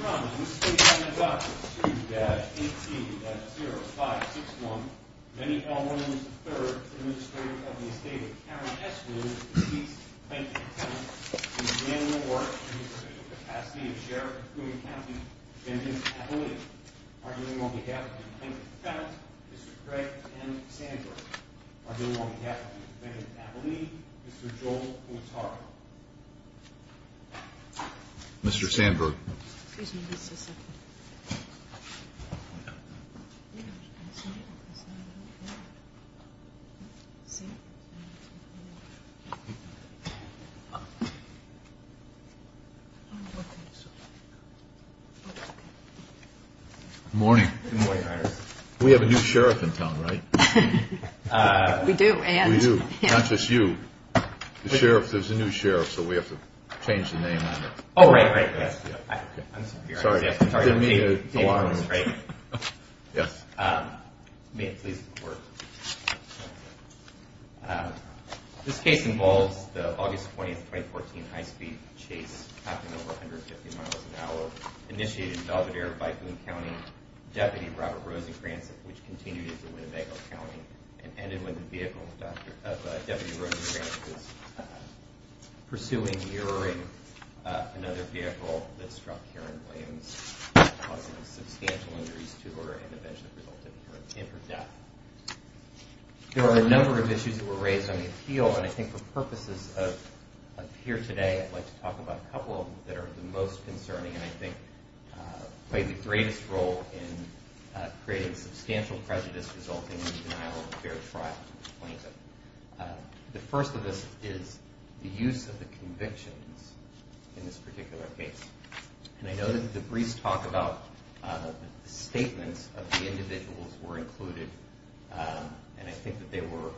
From the Estate of Dr. 2-18-0561, Benny L. Williams III, Administrator of the Estate of Karen S. Williams, defeats Plankton Fenton in the manual or in the provisional capacity of Sheriff of Coon County, Defendant Abilene. Arguing on behalf of Plankton Fenton, Mr. Craig M. Sandberg. Arguing on behalf of Defendant Abilene, Mr. Joel Quattaro. Mr. Sandberg. Good morning. Good morning, Your Honor. We have a new sheriff in town, right? We do. We do, not just you. The sheriff, there's a new sheriff, so we have to change the name on it. Oh, right, right. I'm sorry, Your Honor. Sorry to alarm you. Yes. May it please the Court. This case involves the August 20, 2014 high-speed chase happening over 150 miles an hour, initiated in Belvidere by Coon County Deputy Robert Rosencrantz, which continued into Winnebago County and ended when the vehicle of Deputy Rosencrantz was pursuing, mirroring another vehicle that struck Karen Williams, causing substantial injuries to her and eventually resulting in her death. There are a number of issues that were raised on the appeal, and I think for purposes of here today, I'd like to talk about a couple of them that are the most concerning and I think play the greatest role in creating substantial prejudice resulting in the denial of a fair trial to the plaintiff. The first of this is the use of the convictions in this particular case, and I know that the briefs talk about the statements of the individuals were included, and I think that they were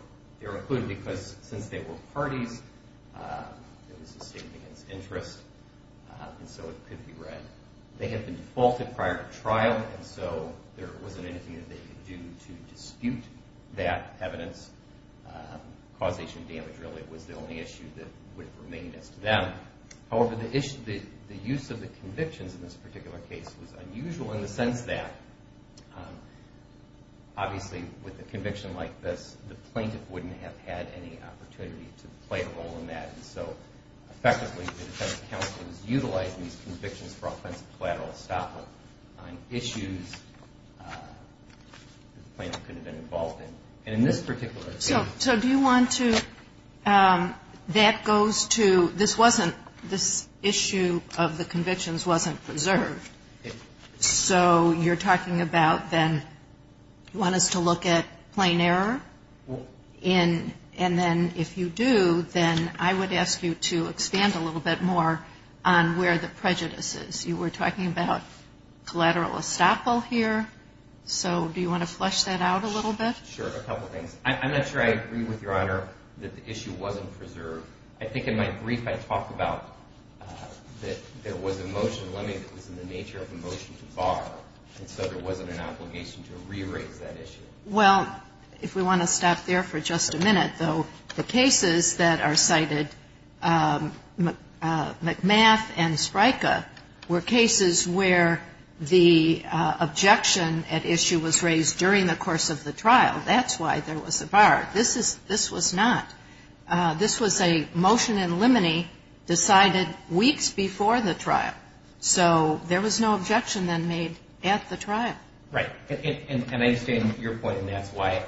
included because since they were parties, it was a statement against interest, and so it could be read. They had been defaulted prior to trial, and so there wasn't anything that they could do to dispute that evidence. Causation of damage, really, was the only issue that would remain as to them. However, the use of the convictions in this particular case was unusual in the sense that, obviously, with a conviction like this, the plaintiff wouldn't have had any opportunity to play a role in that, and so effectively the defense counsel was utilizing these convictions for offensive collateral estoppel on issues that the plaintiff couldn't have been involved in, and in this particular case. So do you want to, that goes to, this wasn't, this issue of the convictions wasn't preserved. So you're talking about then, you want us to look at plain error? And then if you do, then I would ask you to expand a little bit more on where the prejudice is. You were talking about collateral estoppel here, so do you want to flesh that out a little bit? Sure, a couple things. I'm not sure I agree with Your Honor that the issue wasn't preserved. I think in my brief I talked about that there was a motion, let me, that was in the nature of a motion to bar, and so there wasn't an obligation to re-raise that issue. Well, if we want to stop there for just a minute, though, the cases that are cited, McMath and Spryka, were cases where the objection at issue was raised during the course of the trial. That's why there was a bar. This was not. This was a motion in limine decided weeks before the trial. So there was no objection then made at the trial. Right, and I understand your point, and that's why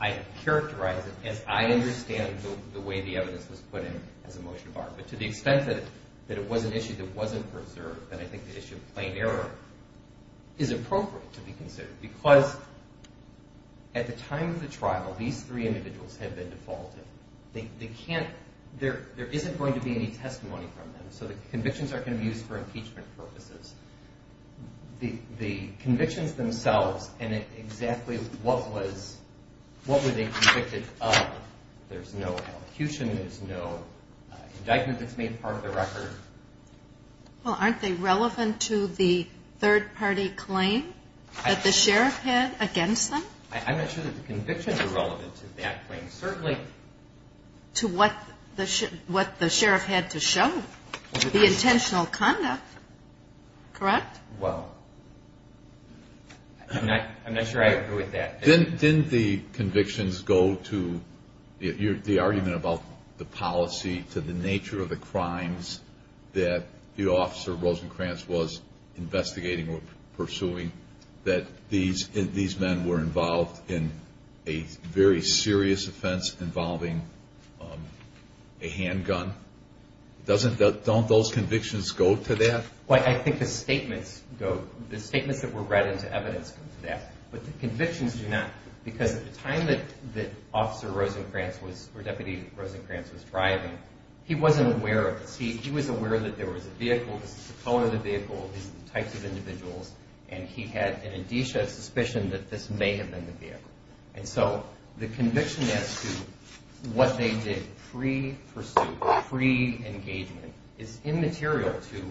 I characterize it as I understand the way the evidence was put in as a motion to bar. But to the extent that it was an issue that wasn't preserved, then I think the issue of plain error is appropriate to be considered, because at the time of the trial, these three individuals had been defaulted. They can't, there isn't going to be any testimony from them, so the convictions aren't going to be used for impeachment purposes. The convictions themselves and exactly what were they convicted of, there's no elocution, there's no indictment that's made part of the record. Well, aren't they relevant to the third-party claim that the sheriff had against them? I'm not sure that the convictions are relevant to that claim. Certainly to what the sheriff had to show, the intentional conduct, correct? Well, I'm not sure I agree with that. Didn't the convictions go to the argument about the policy to the nature of the crimes that the officer, Rosencrantz, was investigating or pursuing, that these men were involved in a very serious offense involving a handgun? Don't those convictions go to that? Well, I think the statements go, the statements that were read into evidence go to that. But the convictions do not, because at the time that Officer Rosencrantz was, or Deputy Rosencrantz was driving, he wasn't aware of this. He was aware that there was a vehicle, this is the color of the vehicle, these are the types of individuals, and he had an indicia, a suspicion, that this may have been the vehicle. And so the conviction as to what they did pre-pursuit, pre-engagement, is immaterial to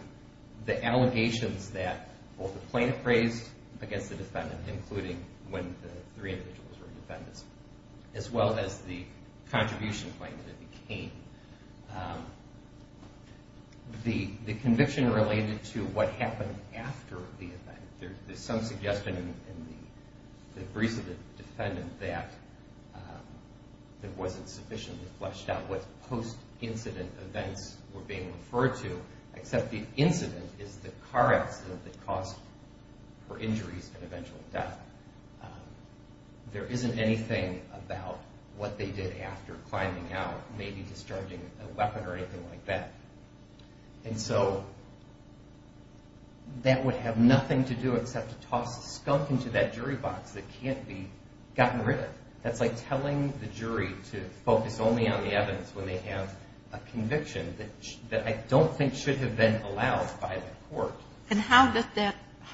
the allegations that both the plaintiff raised against the defendant, including when the three individuals were defendants, as well as the contribution claim that it became. The conviction related to what happened after the event. There's some suggestion in the briefs of the defendant that it wasn't sufficiently fleshed out what post-incident events were being referred to, except the incident is the car accident that caused her injuries and eventual death. There isn't anything about what they did after climbing out, maybe discharging a weapon or anything like that. And so that would have nothing to do except to toss a skunk into that jury box that can't be gotten rid of. That's like telling the jury to focus only on the evidence when they have a conviction that I don't think should have been allowed by the court. And how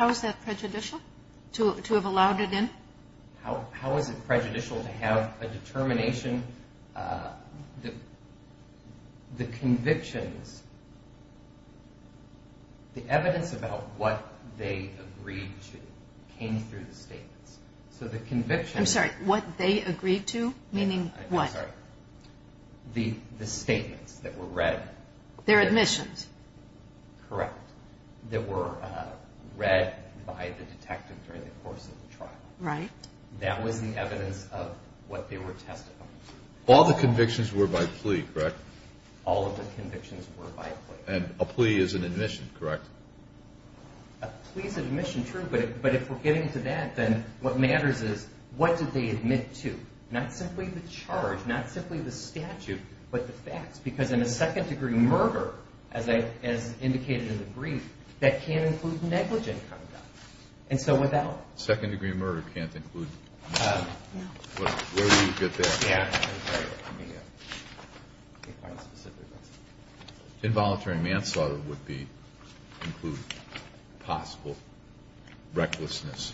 is that prejudicial, to have allowed it in? How is it prejudicial to have a determination? The convictions, the evidence about what they agreed to came through the statements. I'm sorry, what they agreed to, meaning what? I'm sorry, the statements that were read. Their admissions. Correct, that were read by the detective during the course of the trial. That was the evidence of what they were testifying to. All the convictions were by plea, correct? All of the convictions were by plea. And a plea is an admission, correct? A plea is an admission, true, but if we're getting to that, then what matters is what did they admit to? Not simply the charge, not simply the statute, but the facts. Because in a second-degree murder, as indicated in the brief, that can't include negligent conduct. And so without. Second-degree murder can't include negligence. Where did you get that? Yeah. Involuntary manslaughter would include possible recklessness,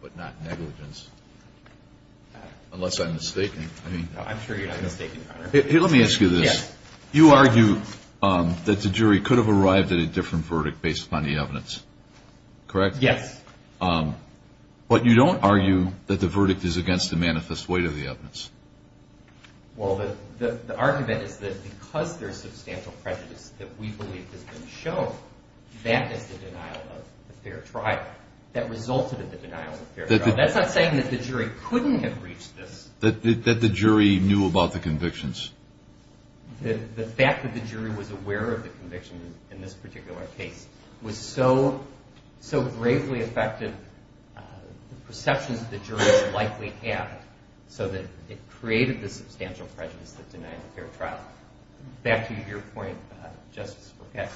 but not negligence. I'm sure you're not mistaken, Your Honor. Let me ask you this. Yes. You argue that the jury could have arrived at a different verdict based upon the evidence, correct? Yes. But you don't argue that the verdict is against the manifest weight of the evidence. Well, the argument is that because there's substantial prejudice that we believe has been shown, that is the denial of a fair trial. That resulted in the denial of a fair trial. That's not saying that the jury couldn't have reached this. That the jury knew about the convictions. The fact that the jury was aware of the conviction in this particular case was so gravely affected the perceptions that the jury likely had so that it created the substantial prejudice that denied a fair trial. Back to your point, Justice Procato,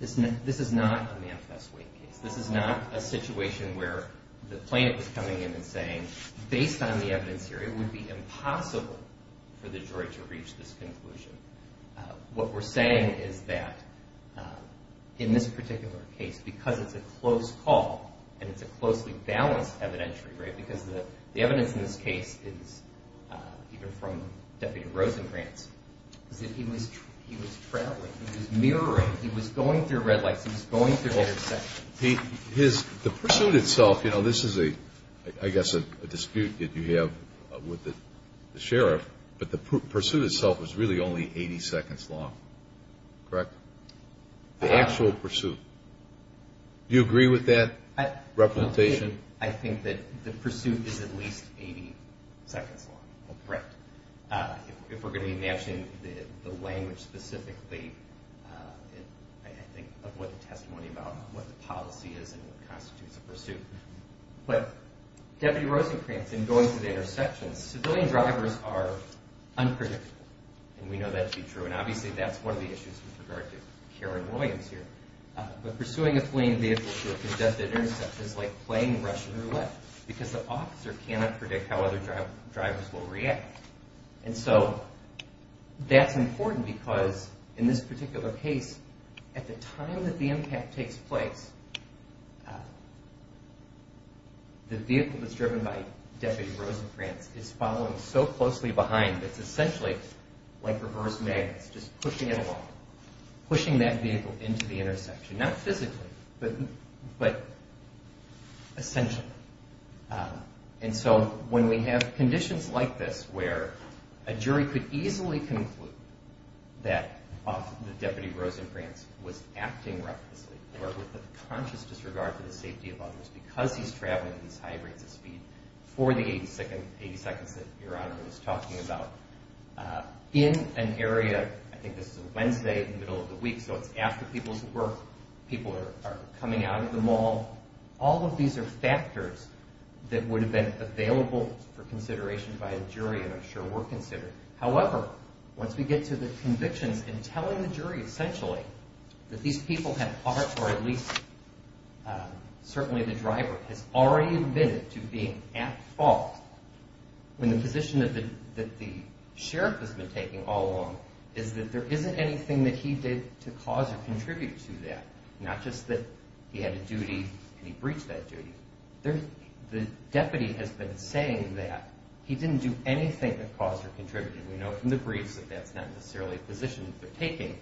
this is not a manifest weight case. This is not a situation where the plaintiff is coming in and saying, based on the evidence here, it would be impossible for the jury to reach this conclusion. What we're saying is that in this particular case, because it's a close call, and it's a closely balanced evidentiary, right, because the evidence in this case is, even from Deputy Rosengrantz, is that he was traveling. He was mirroring. He was going through red lights. He was going through intersections. The pursuit itself, you know, this is, I guess, a dispute that you have with the sheriff, but the pursuit itself was really only 80 seconds long, correct? The actual pursuit. Do you agree with that representation? I think that the pursuit is at least 80 seconds long, correct. If we're going to be matching the language specifically, I think of what the testimony about what the policy is and what constitutes a pursuit. But Deputy Rosengrantz, in going through the intersections, civilian drivers are unpredictable, and we know that to be true, and obviously that's one of the issues with regard to Karen Williams here. But pursuing a fleeing vehicle through a congested intersection is like playing Russian roulette, because the officer cannot predict how other drivers will react. And so that's important because, in this particular case, at the time that the impact takes place, the vehicle that's driven by Deputy Rosengrantz is following so closely behind, it's essentially like reverse magnets, just pushing it along, pushing that vehicle into the intersection. Not physically, but essentially. And so when we have conditions like this, where a jury could easily conclude that Deputy Rosengrantz was acting recklessly or with a conscious disregard for the safety of others because he's traveling at these high rates of speed for the 80 seconds that Your Honor was talking about, in an area, I think this is a Wednesday in the middle of the week, so it's after people's work, people are coming out of the mall, all of these are factors that would have been available for consideration by a jury, and I'm sure were considered. However, once we get to the convictions and telling the jury, essentially, that these people have, or at least certainly the driver, has already admitted to being at fault, when the position that the sheriff has been taking all along is that there isn't anything that he did to cause or contribute to that. Not just that he had a duty and he breached that duty. The deputy has been saying that he didn't do anything that caused or contributed. We know from the briefs that that's not necessarily a position that they're taking.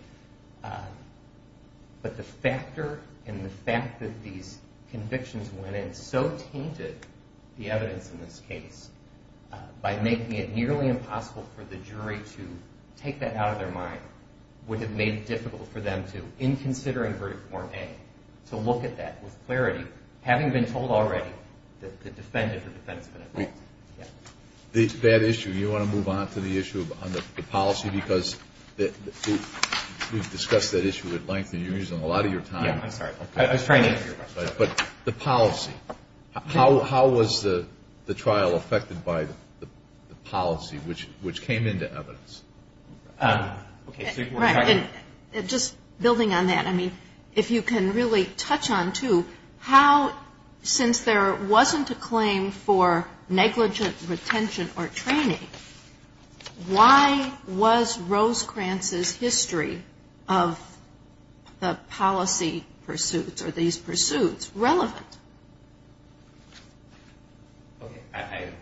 But the factor and the fact that these convictions went in so tainted the evidence in this case by making it nearly impossible for the jury to take that out of their mind would have made it difficult for them to, in considering Verdict Form A, to look at that with clarity, having been told already that the defendant or defendant's been at fault. That issue, you want to move on to the issue of the policy, because we've discussed that issue at length, and you're using a lot of your time. Yeah, I'm sorry. I was trying to answer your question. But the policy, how was the trial affected by the policy, which came into evidence? Just building on that, I mean, if you can really touch on, too, how since there wasn't a claim for negligent retention or training, why was Rose Krantz's history of the policy pursuits or these pursuits relevant? Okay, I have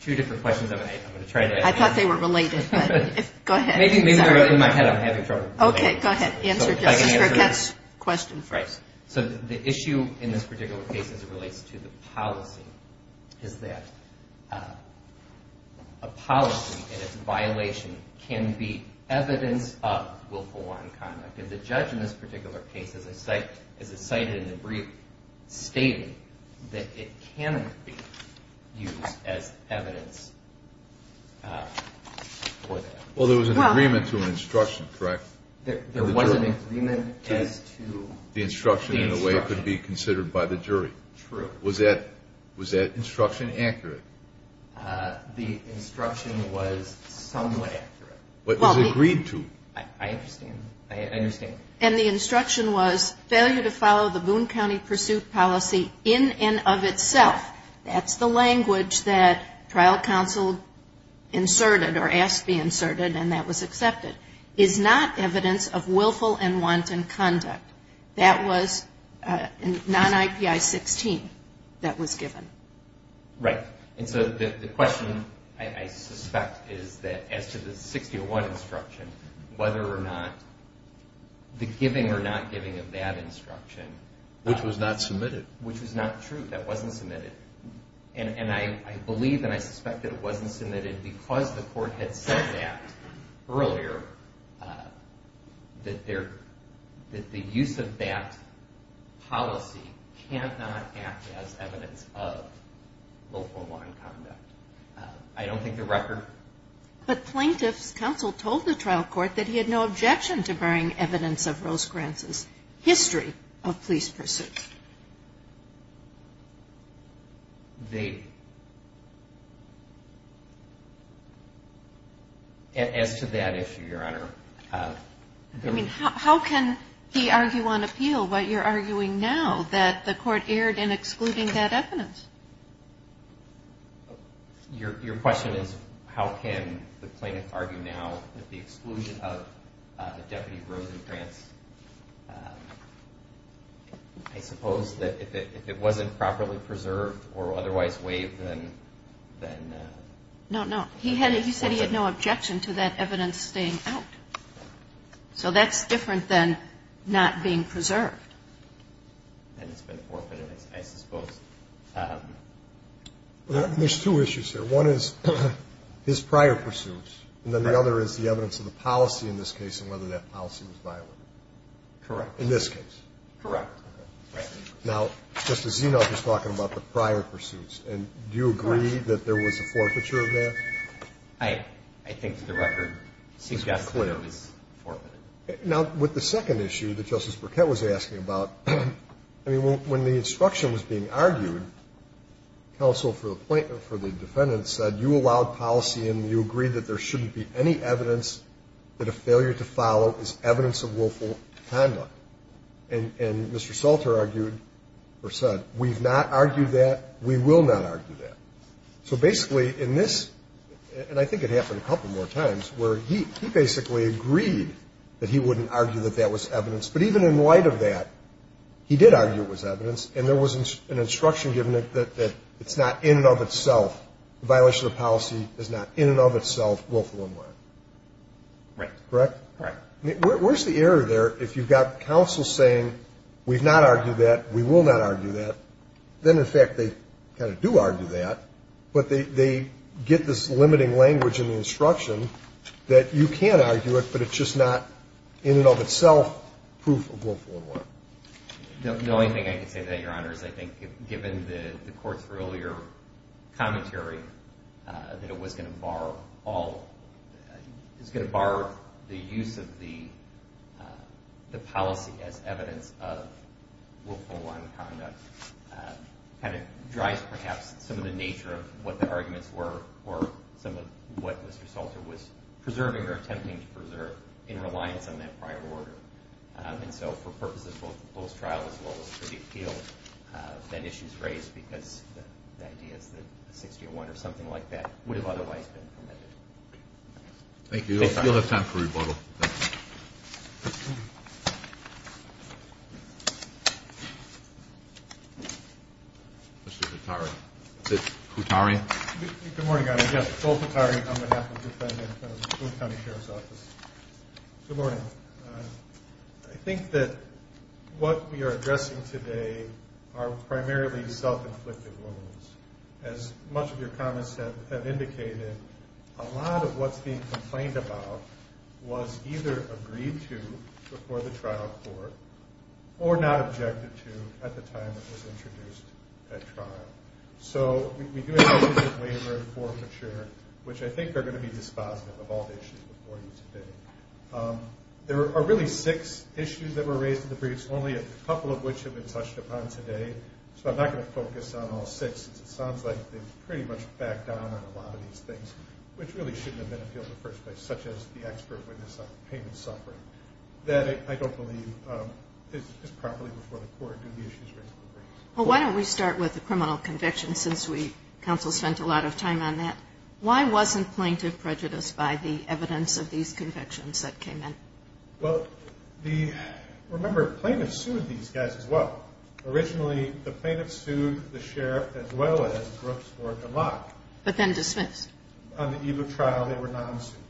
two different questions I'm going to try to answer. I thought they were related, but go ahead. Maybe they're in my head. I'm having trouble. Okay, go ahead. Answer Jessica's question first. So the issue in this particular case as it relates to the policy is that a policy and its violation can be evidence of willful wanton conduct. And the judge in this particular case, as I cited in the brief, stated that it cannot be used as evidence for that. Well, there was an agreement to an instruction, correct? There was an agreement as to the instruction. True. Was that instruction accurate? The instruction was somewhat accurate. But it was agreed to. I understand. I understand. And the instruction was failure to follow the Boone County pursuit policy in and of itself. That's the language that trial counsel inserted or asked be inserted, and that was accepted, is not evidence of willful and wanton conduct. That was non-IPI 16 that was given. Right. And so the question I suspect is that as to the 6001 instruction, whether or not the giving or not giving of that instruction... Which was not submitted. Which was not true. That wasn't submitted. And I believe and I suspect that it wasn't submitted because the court had said that earlier that the use of that policy cannot act as evidence of willful and wanton conduct. I don't think the record... But plaintiff's counsel told the trial court that he had no objection to bearing evidence of Rose Grant's history of police pursuits. They... As to that issue, Your Honor... I mean, how can he argue on appeal what you're arguing now, that the court erred in excluding that evidence? Your question is how can the plaintiff argue now that the exclusion of Deputy Rose Grant's, I suppose that if it wasn't properly preserved or otherwise waived, then... No, no. He said he had no objection to that evidence staying out. So that's different than not being preserved. And it's been forfeited, I suppose. There's two issues here. One is his prior pursuits and then the other is the evidence of the policy in this case and whether that policy was violated. Correct. In this case. Correct. Now, Justice Zenoff is talking about the prior pursuits. And do you agree that there was a forfeiture of that? I think the record suggests that it was forfeited. Now, with the second issue that Justice Burkett was asking about, I mean, when the instruction was being argued, counsel for the defendant said you allowed policy and you agreed that there shouldn't be any evidence that a failure to follow is evidence of willful conduct. And Mr. Salter argued or said we've not argued that, we will not argue that. So basically in this, and I think it happened a couple more times, where he basically agreed that he wouldn't argue that that was evidence. But even in light of that, he did argue it was evidence, and there was an instruction given that it's not in and of itself, a violation of policy is not in and of itself willful or not. Right. Correct? Right. Where's the error there if you've got counsel saying we've not argued that, we will not argue that, then in fact they kind of do argue that, but they get this limiting language in the instruction that you can argue it, but it's just not in and of itself proof of willful or not. The only thing I can say to that, Your Honor, is I think given the Court's earlier commentary that it was going to bar all, it was going to bar the use of the policy as evidence of willful or nonconduct, kind of drives perhaps some of the nature of what the arguments were or some of what Mr. Salter was preserving or attempting to preserve in reliance on that prior order. And so for purposes of both the post-trial as well as the pre-appeal, that issue is raised because the idea is that a 6-0-1 or something like that would have otherwise been permitted. Thank you. We still have time for rebuttal. Mr. Kutari. Is it Kutari? Good morning, Your Honor. Yes, Phil Kutari on behalf of the defendant of the Boone County Sheriff's Office. Good morning. I think that what we are addressing today are primarily self-inflicted wounds. As much of your comments have indicated, a lot of what's being complained about was either agreed to before the trial court or not objected to at the time it was introduced at trial. So we do have issues of waiver and forfeiture, which I think are going to be dispositive of all the issues before you today. There are really six issues that were raised in the briefs, only a couple of which have been touched upon today, so I'm not going to focus on all six. It sounds like they've pretty much backed down on a lot of these things, which really shouldn't have been appealed in the first place, such as the expert witness on payment suffering. That, I don't believe, is properly before the court. Do the issues raise in the briefs? Well, why don't we start with the criminal convictions, since counsel spent a lot of time on that. Why wasn't plaintiff prejudiced by the evidence of these convictions that came in? Well, remember, plaintiffs sued these guys as well. Originally, the plaintiffs sued the sheriff as well as Brooks or DeLocke. But then dismissed. On the eve of trial, they were non-suited,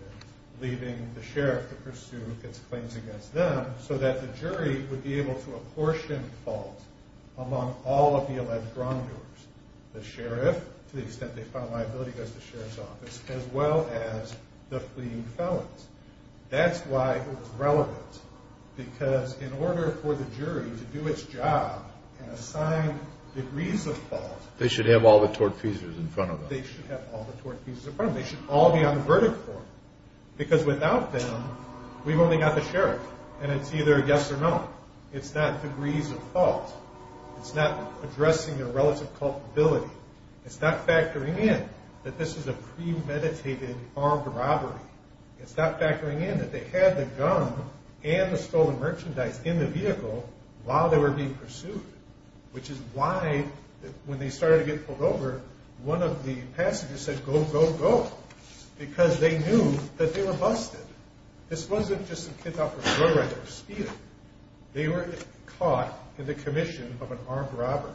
leaving the sheriff to pursue its claims against them so that the jury would be able to apportion the fault among all of the alleged wrongdoers. The sheriff, to the extent they found liability, goes to the sheriff's office, as well as the fleeing felons. That's why it was relevant, because in order for the jury to do its job and assign degrees of fault… They should have all the tort pieces in front of them. They should have all the tort pieces in front of them. They should all be on the verdict board, because without them, we've only got the sheriff. And it's either yes or no. It's not degrees of fault. It's not addressing their relative culpability. It's not factoring in that this is a premeditated armed robbery. It's not factoring in that they had the gun and the stolen merchandise in the vehicle while they were being pursued. Which is why, when they started to get pulled over, one of the passengers said, Go, go, go! Because they knew that they were busted. This wasn't just some kid off the road right there speeding. They were caught in the commission of an armed robber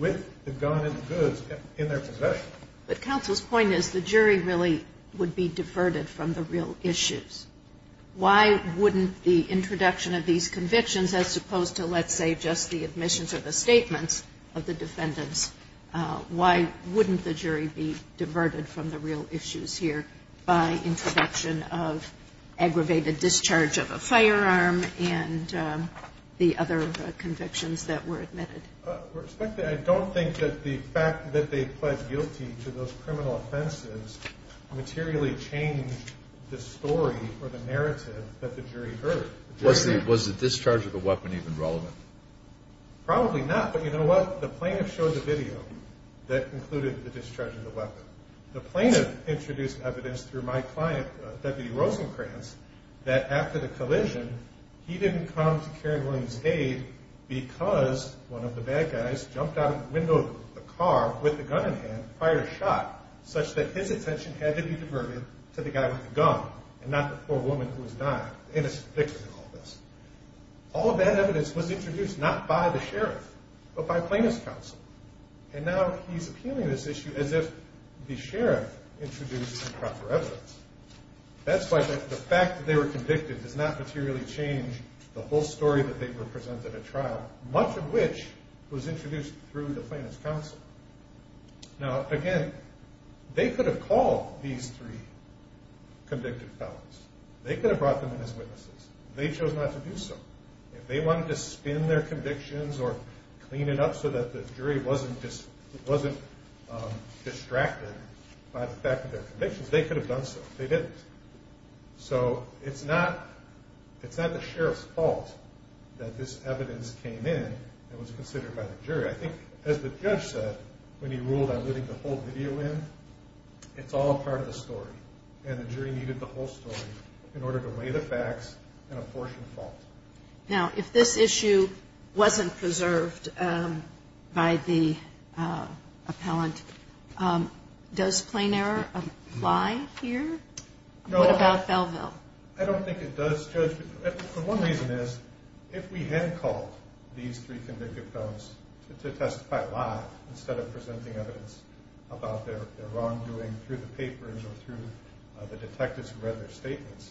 with the gun and the goods in their possession. But counsel's point is the jury really would be diverted from the real issues. Why wouldn't the introduction of these convictions, as opposed to, let's say, just the admissions or the statements of the defendants, why wouldn't the jury be diverted from the real issues here by introduction of aggravated discharge of a firearm and the other convictions that were admitted? I don't think that the fact that they pled guilty to those criminal offenses materially changed the story or the narrative that the jury heard. Was the discharge of the weapon even relevant? Probably not, but you know what? The plaintiff introduced evidence through my client, Deputy Rosenkranz, that after the collision, he didn't come to Karen Williams' aid because one of the bad guys jumped out of the window of the car with a gun in hand prior to the shot, such that his attention had to be diverted to the guy with the gun and not the poor woman who was dying in a sphincter in all this. All of that evidence was introduced not by the sheriff, but by plaintiff's counsel. And now he's appealing this issue as if the sheriff introduced improper evidence. That's why the fact that they were convicted does not materially change the whole story that they were presented at trial, much of which was introduced through the plaintiff's counsel. Now, again, they could have called these three convicted felons. They could have brought them in as witnesses. They chose not to do so. If they wanted to spin their convictions or clean it up so that the jury wasn't distracted by the fact of their convictions, they could have done so. They didn't. So it's not the sheriff's fault that this evidence came in and was considered by the jury. I think, as the judge said when he ruled on putting the whole video in, it's all part of the story, and the jury needed the whole story in order to weigh the facts and apportion fault. Now, if this issue wasn't preserved by the appellant, does plain error apply here? What about Belleville? I don't think it does, Judge. One reason is if we had called these three convicted felons to testify live instead of presenting evidence about their wrongdoing through the papers or through the detectives who read their statements,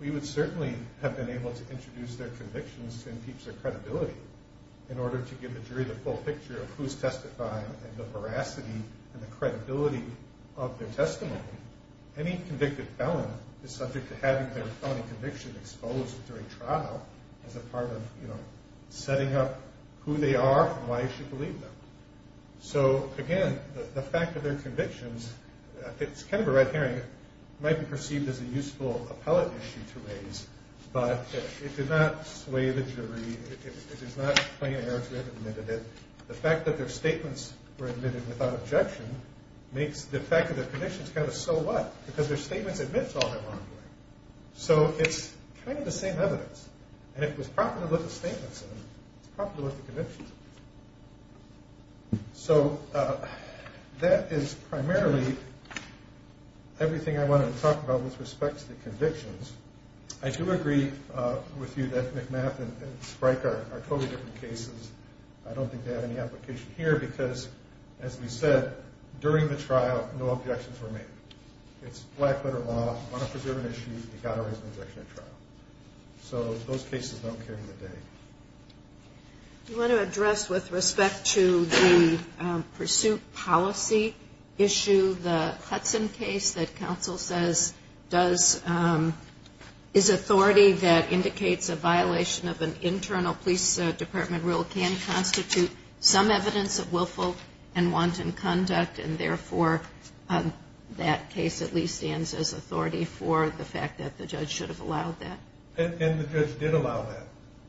we would certainly have been able to introduce their convictions and teach their credibility in order to give the jury the full picture of who's testifying and the veracity and the credibility of their testimony. Any convicted felon is subject to having their felony conviction exposed during trial as a part of setting up who they are and why you should believe them. So, again, the fact of their convictions, it's kind of a red herring, might be perceived as a useful appellate issue to raise, but it did not sway the jury. It is not plain error to have admitted it. The fact that their statements were admitted without objection makes the fact of their convictions kind of a so what because their statements admits all their wrongdoing. So it's kind of the same evidence, and if it was proper to look at statements, it's proper to look at convictions. So that is primarily everything I wanted to talk about with respect to the convictions. I do agree with you that McMath and Spryker are totally different cases. I don't think they have any application here because, as we said, during the trial, no objections were made. It's black-letter law. On a preserved issue, you've got to raise an objection at trial. So those cases don't carry the day. You want to address, with respect to the pursuit policy issue, the Hudson case that counsel says is authority that indicates a violation of an internal police department rule can constitute some evidence of willful and wanton conduct, and therefore that case at least stands as authority for the fact that the judge should have allowed that. And the judge did allow that.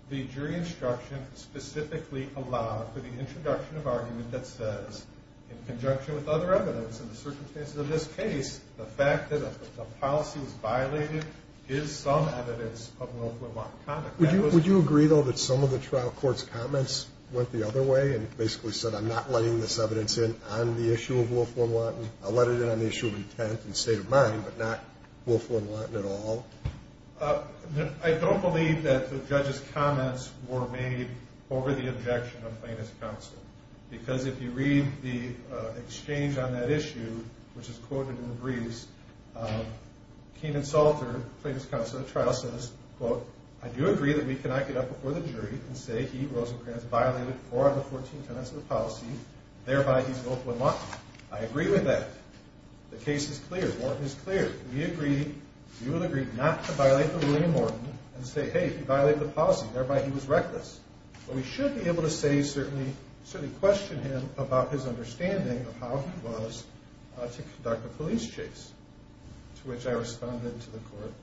The jury instruction specifically allowed for the introduction of argument that says, in conjunction with other evidence in the circumstances of this case, the fact that the policy was violated is some evidence of willful and wanton conduct. Would you agree, though, that some of the trial court's comments went the other way and basically said, I'm not letting this evidence in on the issue of willful and wanton? I'll let it in on the issue of intent and state of mind, but not willful and wanton at all? I don't believe that the judge's comments were made over the objection of plaintiff's counsel. Because if you read the exchange on that issue, which is quoted in the briefs, Keenan Salter, plaintiff's counsel at trial, says, quote, I do agree that we cannot get up before the jury and say he, Rosencrantz, violated four of the 14 tenets of the policy, thereby he's willful and wanton. I agree with that. The case is clear. The warrant is clear. We agree, we would agree not to violate the ruling of Morton and say, hey, he violated the policy, thereby he was reckless. But we should be able to say, certainly, certainly question him about his understanding of how he was to conduct a police chase, to which I responded to the court.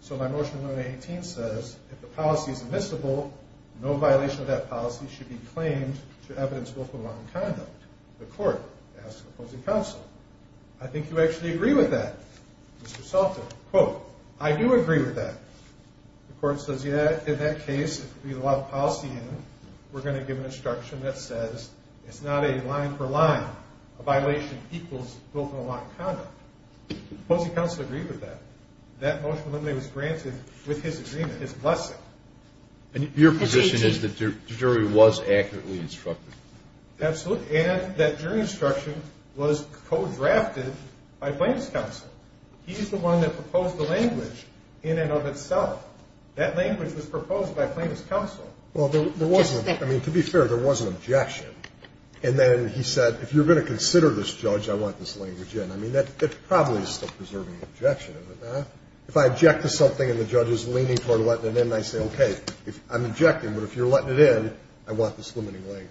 So my motion of 118 says, if the policy is admissible, no violation of that policy should be claimed to evidence of willful and wanton conduct. The court asks opposing counsel. I think you actually agree with that. Mr. Salter, quote, I do agree with that. The court says, yeah, in that case, if we get a lot of policy in, we're going to give an instruction that says it's not a line for line, a violation equals willful and wanton conduct. Opposing counsel agreed with that. That motion of 118 was granted with his agreement, his blessing. And your position is that the jury was accurately instructed? Absolutely, and that jury instruction was co-drafted by plaintiff's counsel. He's the one that proposed the language in and of itself. That language was proposed by plaintiff's counsel. Well, there was, I mean, to be fair, there was an objection. And then he said, if you're going to consider this judge, I want this language in. I mean, that probably is still preserving the objection, is it not? If I object to something and the judge is leaning toward letting it in, I say, okay, I'm objecting, but if you're letting it in, I want this limiting language.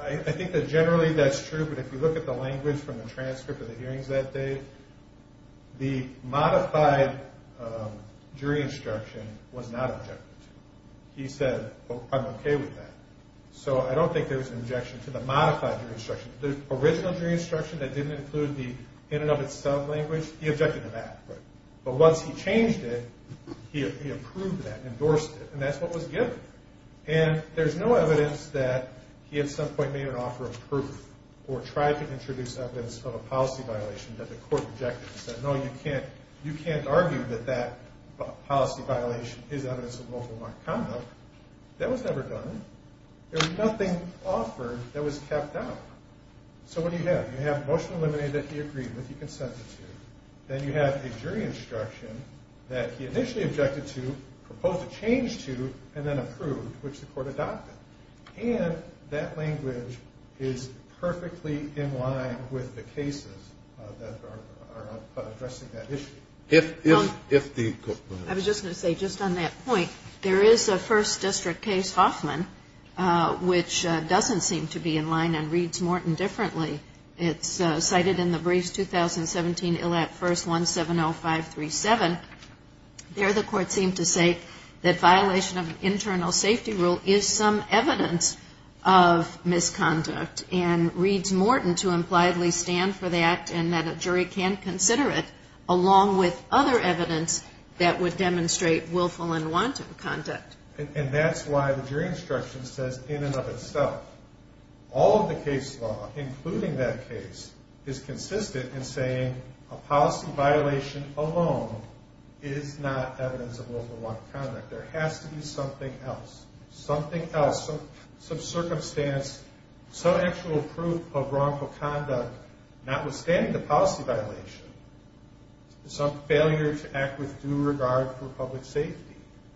I think that generally that's true, but if you look at the language from the transcript of the hearings that day, the modified jury instruction was not objected to. He said, well, I'm okay with that. So I don't think there was an objection to the modified jury instruction. The original jury instruction that didn't include the in and of itself language, he objected to that. But once he changed it, he approved that, endorsed it, and that's what was given. And there's no evidence that he at some point made an offer of proof or tried to introduce evidence of a policy violation that the court rejected. He said, no, you can't argue that that policy violation is evidence of local conduct. That was never done. There was nothing offered that was kept out. So what do you have? You have motion eliminated that he agreed with, he consented to. Then you have a jury instruction that he initially objected to, proposed a change to, and then approved, which the court adopted. And that language is perfectly in line with the cases that are addressing that issue. I was just going to say, just on that point, there is a first district case, Hoffman, which doesn't seem to be in line and reads Morton differently. It's cited in the briefs, 2017 ILL Act I, 170537. There the court seemed to say that violation of an internal safety rule is some evidence of misconduct, and reads Morton to impliedly stand for that and that a jury can consider it, along with other evidence that would demonstrate willful and wanton conduct. And that's why the jury instruction says in and of itself, all of the case law, including that case, is consistent in saying a policy violation alone is not evidence of willful and wanton conduct. There has to be something else. Something else, some circumstance, some actual proof of wrongful conduct, notwithstanding the policy violation, some failure to act with due regard for public safety.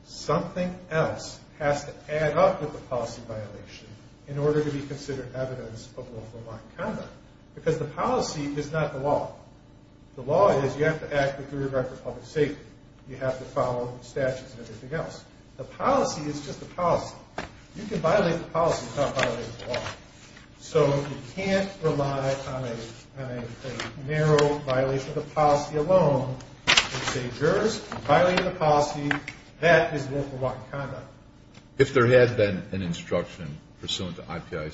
Something else has to add up with the policy violation in order to be considered evidence of willful and wanton conduct. Because the policy is not the law. The law is you have to act with due regard for public safety. You have to follow statutes and everything else. The policy is just a policy. You can violate the policy without violating the law. So you can't rely on a narrow violation of the policy alone to say jurors, violating the policy, that is willful and wanton conduct. If there had been an instruction pursuant to IPI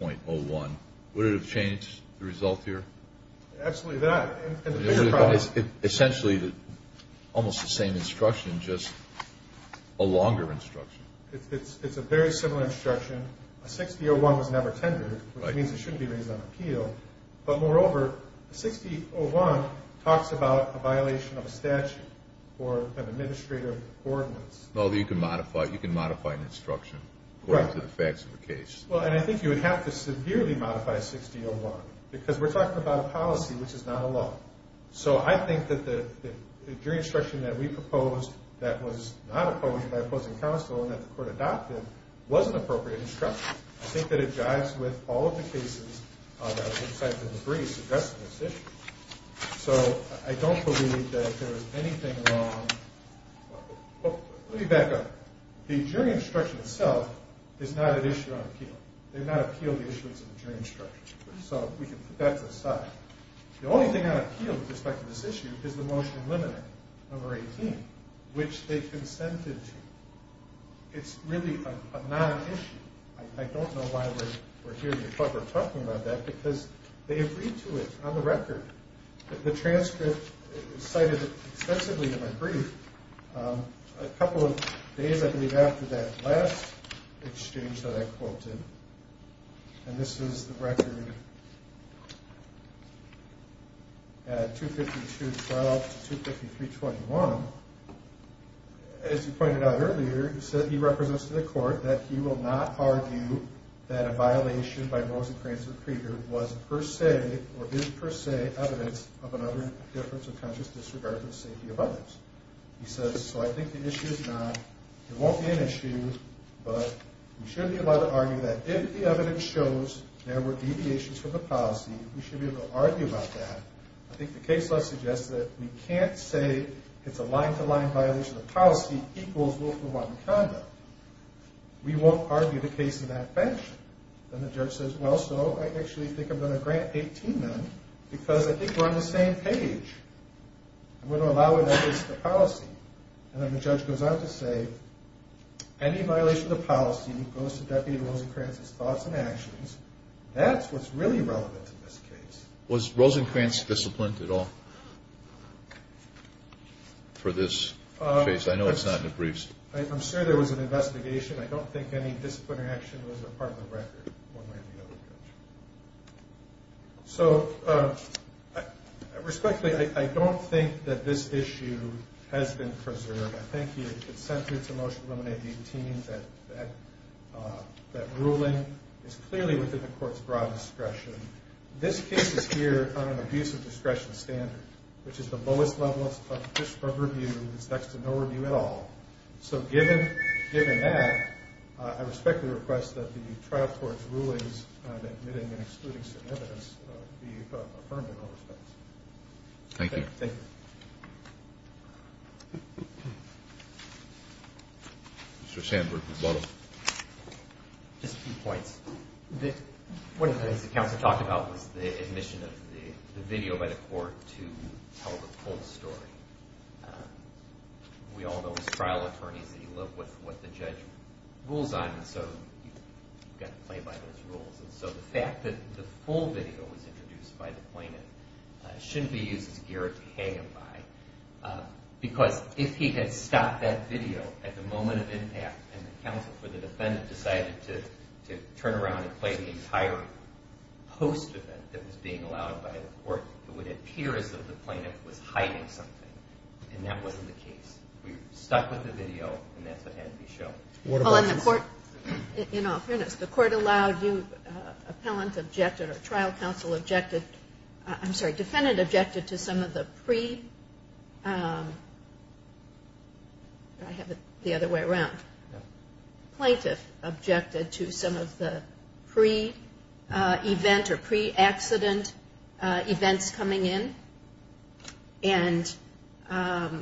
60.01, would it have changed the result here? Absolutely not. Essentially almost the same instruction, just a longer instruction. It's a very similar instruction. A 60.01 was never tendered, which means it shouldn't be raised on appeal. But moreover, a 60.01 talks about a violation of a statute or an administrative ordinance. Although you can modify an instruction according to the facts of the case. And I think you would have to severely modify 60.01 because we're talking about a policy which is not a law. So I think that the jury instruction that we proposed that was not opposed by opposing counsel and that the court adopted was an appropriate instruction. I think that it jives with all of the cases that were cited in the briefs addressing this issue. So I don't believe that there is anything wrong. Let me back up. The jury instruction itself is not an issue on appeal. They did not appeal the issuance of the jury instruction. So we can put that to the side. The only thing on appeal with respect to this issue is the motion in limine number 18, which they consented to. It's really a non-issue. I don't know why we're here to talk about that because they agreed to it on the record. The transcript cited extensively in the brief. A couple of days, I believe, after that last exchange that I quoted, and this is the record at 252.12 to 253.21, as he pointed out earlier, he said he represents to the court that he will not argue that a violation by Rosencrantz or Krieger was per se or is per se evidence of an utter difference of consciousness with regard to the safety of others. He says, so I think the issue is not, it won't be an issue, but we should be able to argue that if the evidence shows there were deviations from the policy, we should be able to argue about that. I think the case law suggests that we can't say it's a line-to-line violation of policy equals willful wanton conduct. We won't argue the case in that fashion. Then the judge says, well, so I actually think I'm going to grant 18 then because I think we're on the same page. I'm going to allow it in the case of the policy. And then the judge goes on to say any violation of the policy goes to Deputy Rosencrantz's thoughts and actions. That's what's really relevant to this case. Was Rosencrantz disciplined at all for this case? I know it's not in the briefs. I'm sure there was an investigation. I don't think any discipline or action was a part of the record, one way or the other. So, respectfully, I don't think that this issue has been preserved. I think the consent to this motion to eliminate 18, that ruling, is clearly within the court's broad discretion. This case is here on an abuse of discretion standard, which is the lowest level of review. It's next to no review at all. I'm admitting and excluding certain evidence to be affirmed in all respects. Thank you. Thank you. Mr. Sandberg, you're welcome. Just a few points. One of the things the counsel talked about was the admission of the video by the court to tell the whole story. We all know as trial attorneys that you live with what the judge rules on, so you've got to play by those rules. And so the fact that the full video was introduced by the plaintiff shouldn't be used as a gear to hang him by, because if he had stopped that video at the moment of impact and the counsel for the defendant decided to turn around and play the entire post-event that was being allowed by the court, it would appear as though the plaintiff was hiding something, and that wasn't the case. We were stuck with the video, and that's what had to be shown. In all fairness, the court allowed you, appellant objected or trial counsel objected. I'm sorry, defendant objected to some of the pre- I have it the other way around. Plaintiff objected to some of the pre-event or pre-accident events coming in. I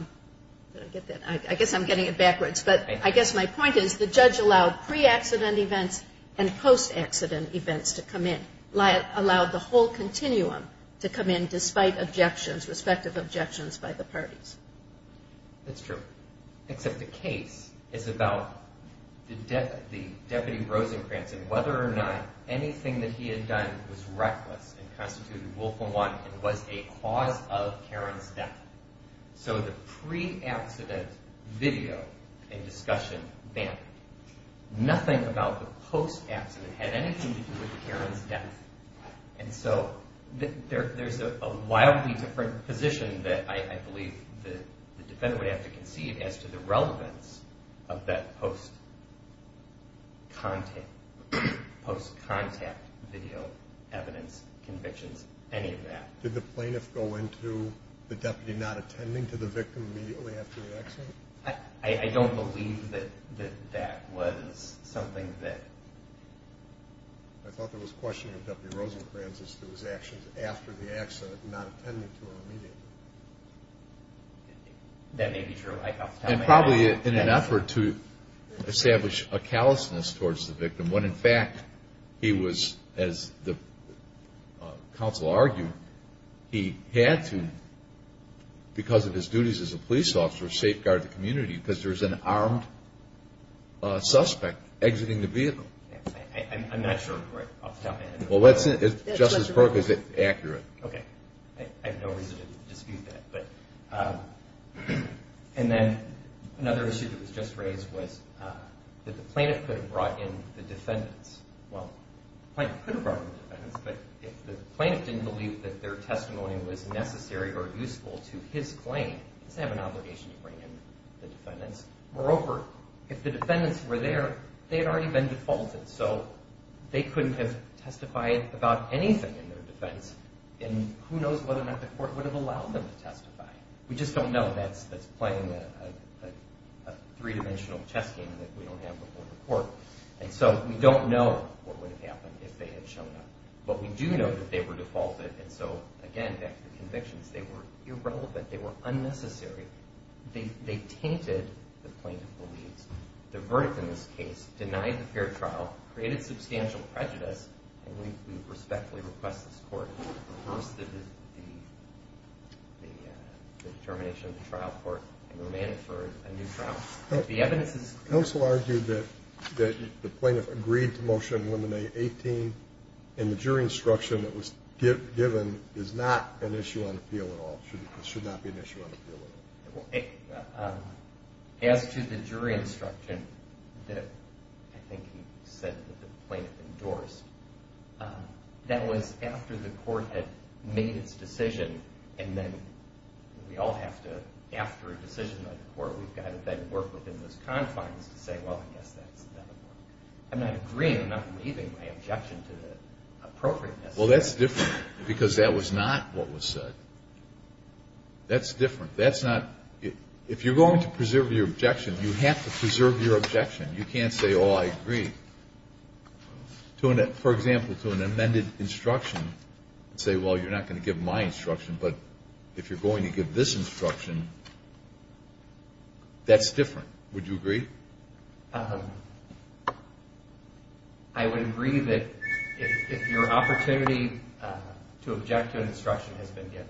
guess I'm getting it backwards. But I guess my point is the judge allowed pre-accident events and post-accident events to come in, allowed the whole continuum to come in despite objections, respective objections by the parties. That's true, except the case is about the deputy Rosencrantz and whether or not anything that he had done was reckless and constituted rule for one and was a cause of Karen's death. So the pre-accident video and discussion banned. Nothing about the post-accident had anything to do with Karen's death. And so there's a wildly different position that I believe the defendant would have to conceive as to the relevance of that post-contact video evidence convictions, any of that. Did the plaintiff go into the deputy not attending to the victim immediately after the accident? I don't believe that that was something that... I thought there was questioning of Deputy Rosencrantz as to his actions after the accident, not attending to him immediately. That may be true. And probably in an effort to establish a callousness towards the victim when, in fact, he was, as the counsel argued, he had to, because of his duties as a police officer, safeguard the community because there's an armed suspect exiting the vehicle. I'm not sure. Well, Justice Burke, is it accurate? Okay. I have no reason to dispute that. And then another issue that was just raised was that the plaintiff could have brought in the defendants. Well, the plaintiff could have brought in the defendants, but if the plaintiff didn't believe that their testimony was necessary or useful to his claim, he doesn't have an obligation to bring in the defendants. Moreover, if the defendants were there, they had already been defaulted, so they couldn't have testified about anything in their defense, and who knows whether or not the court would have allowed them to testify. We just don't know. That's playing a three-dimensional chess game that we don't have before the court. And so we don't know what would have happened if they had shown up. But we do know that they were defaulted, and so, again, back to the convictions, they were irrelevant. They were unnecessary. They tainted the plaintiff's beliefs. The verdict in this case denied the fair trial, created substantial prejudice, and we respectfully request this court reverse the determination of the trial court and remand it for a new trial. The evidence is clear. Counsel argued that the plaintiff agreed to Motion 11A.18, and the jury instruction that was given is not an issue on appeal at all. It should not be an issue on appeal at all. As to the jury instruction that I think he said that the plaintiff endorsed, that was after the court had made its decision, and then we all have to, after a decision by the court, we've got to then work within those confines to say, well, I guess that's another one. I'm not agreeing. I'm not leaving my objection to the appropriateness. Well, that's different because that was not what was said. That's different. If you're going to preserve your objection, you have to preserve your objection. You can't say, oh, I agree. For example, to an amended instruction, say, well, you're not going to give my instruction, but if you're going to give this instruction, that's different. Would you agree? I would agree that if your opportunity to object to an instruction has been given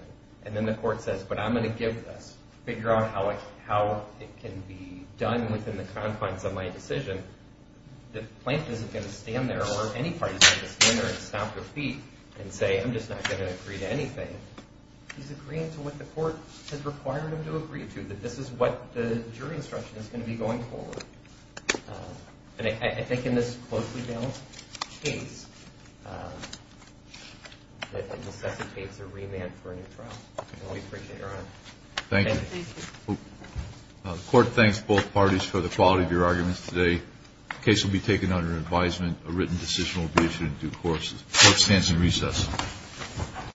and then the court says, but I'm going to give this, figure out how it can be done within the confines of my decision, the plaintiff isn't going to stand there or any party is going to stand there and stomp their feet and say, I'm just not going to agree to anything. He's agreeing to what the court has required him to agree to, that this is what the jury instruction is going to be going forward. And I think in this closely balanced case, that it necessitates a remand for a new trial. And we appreciate Your Honor. Thank you. The court thanks both parties for the quality of your arguments today. The case will be taken under advisement. A written decision will be issued in due course. The court stands in recess.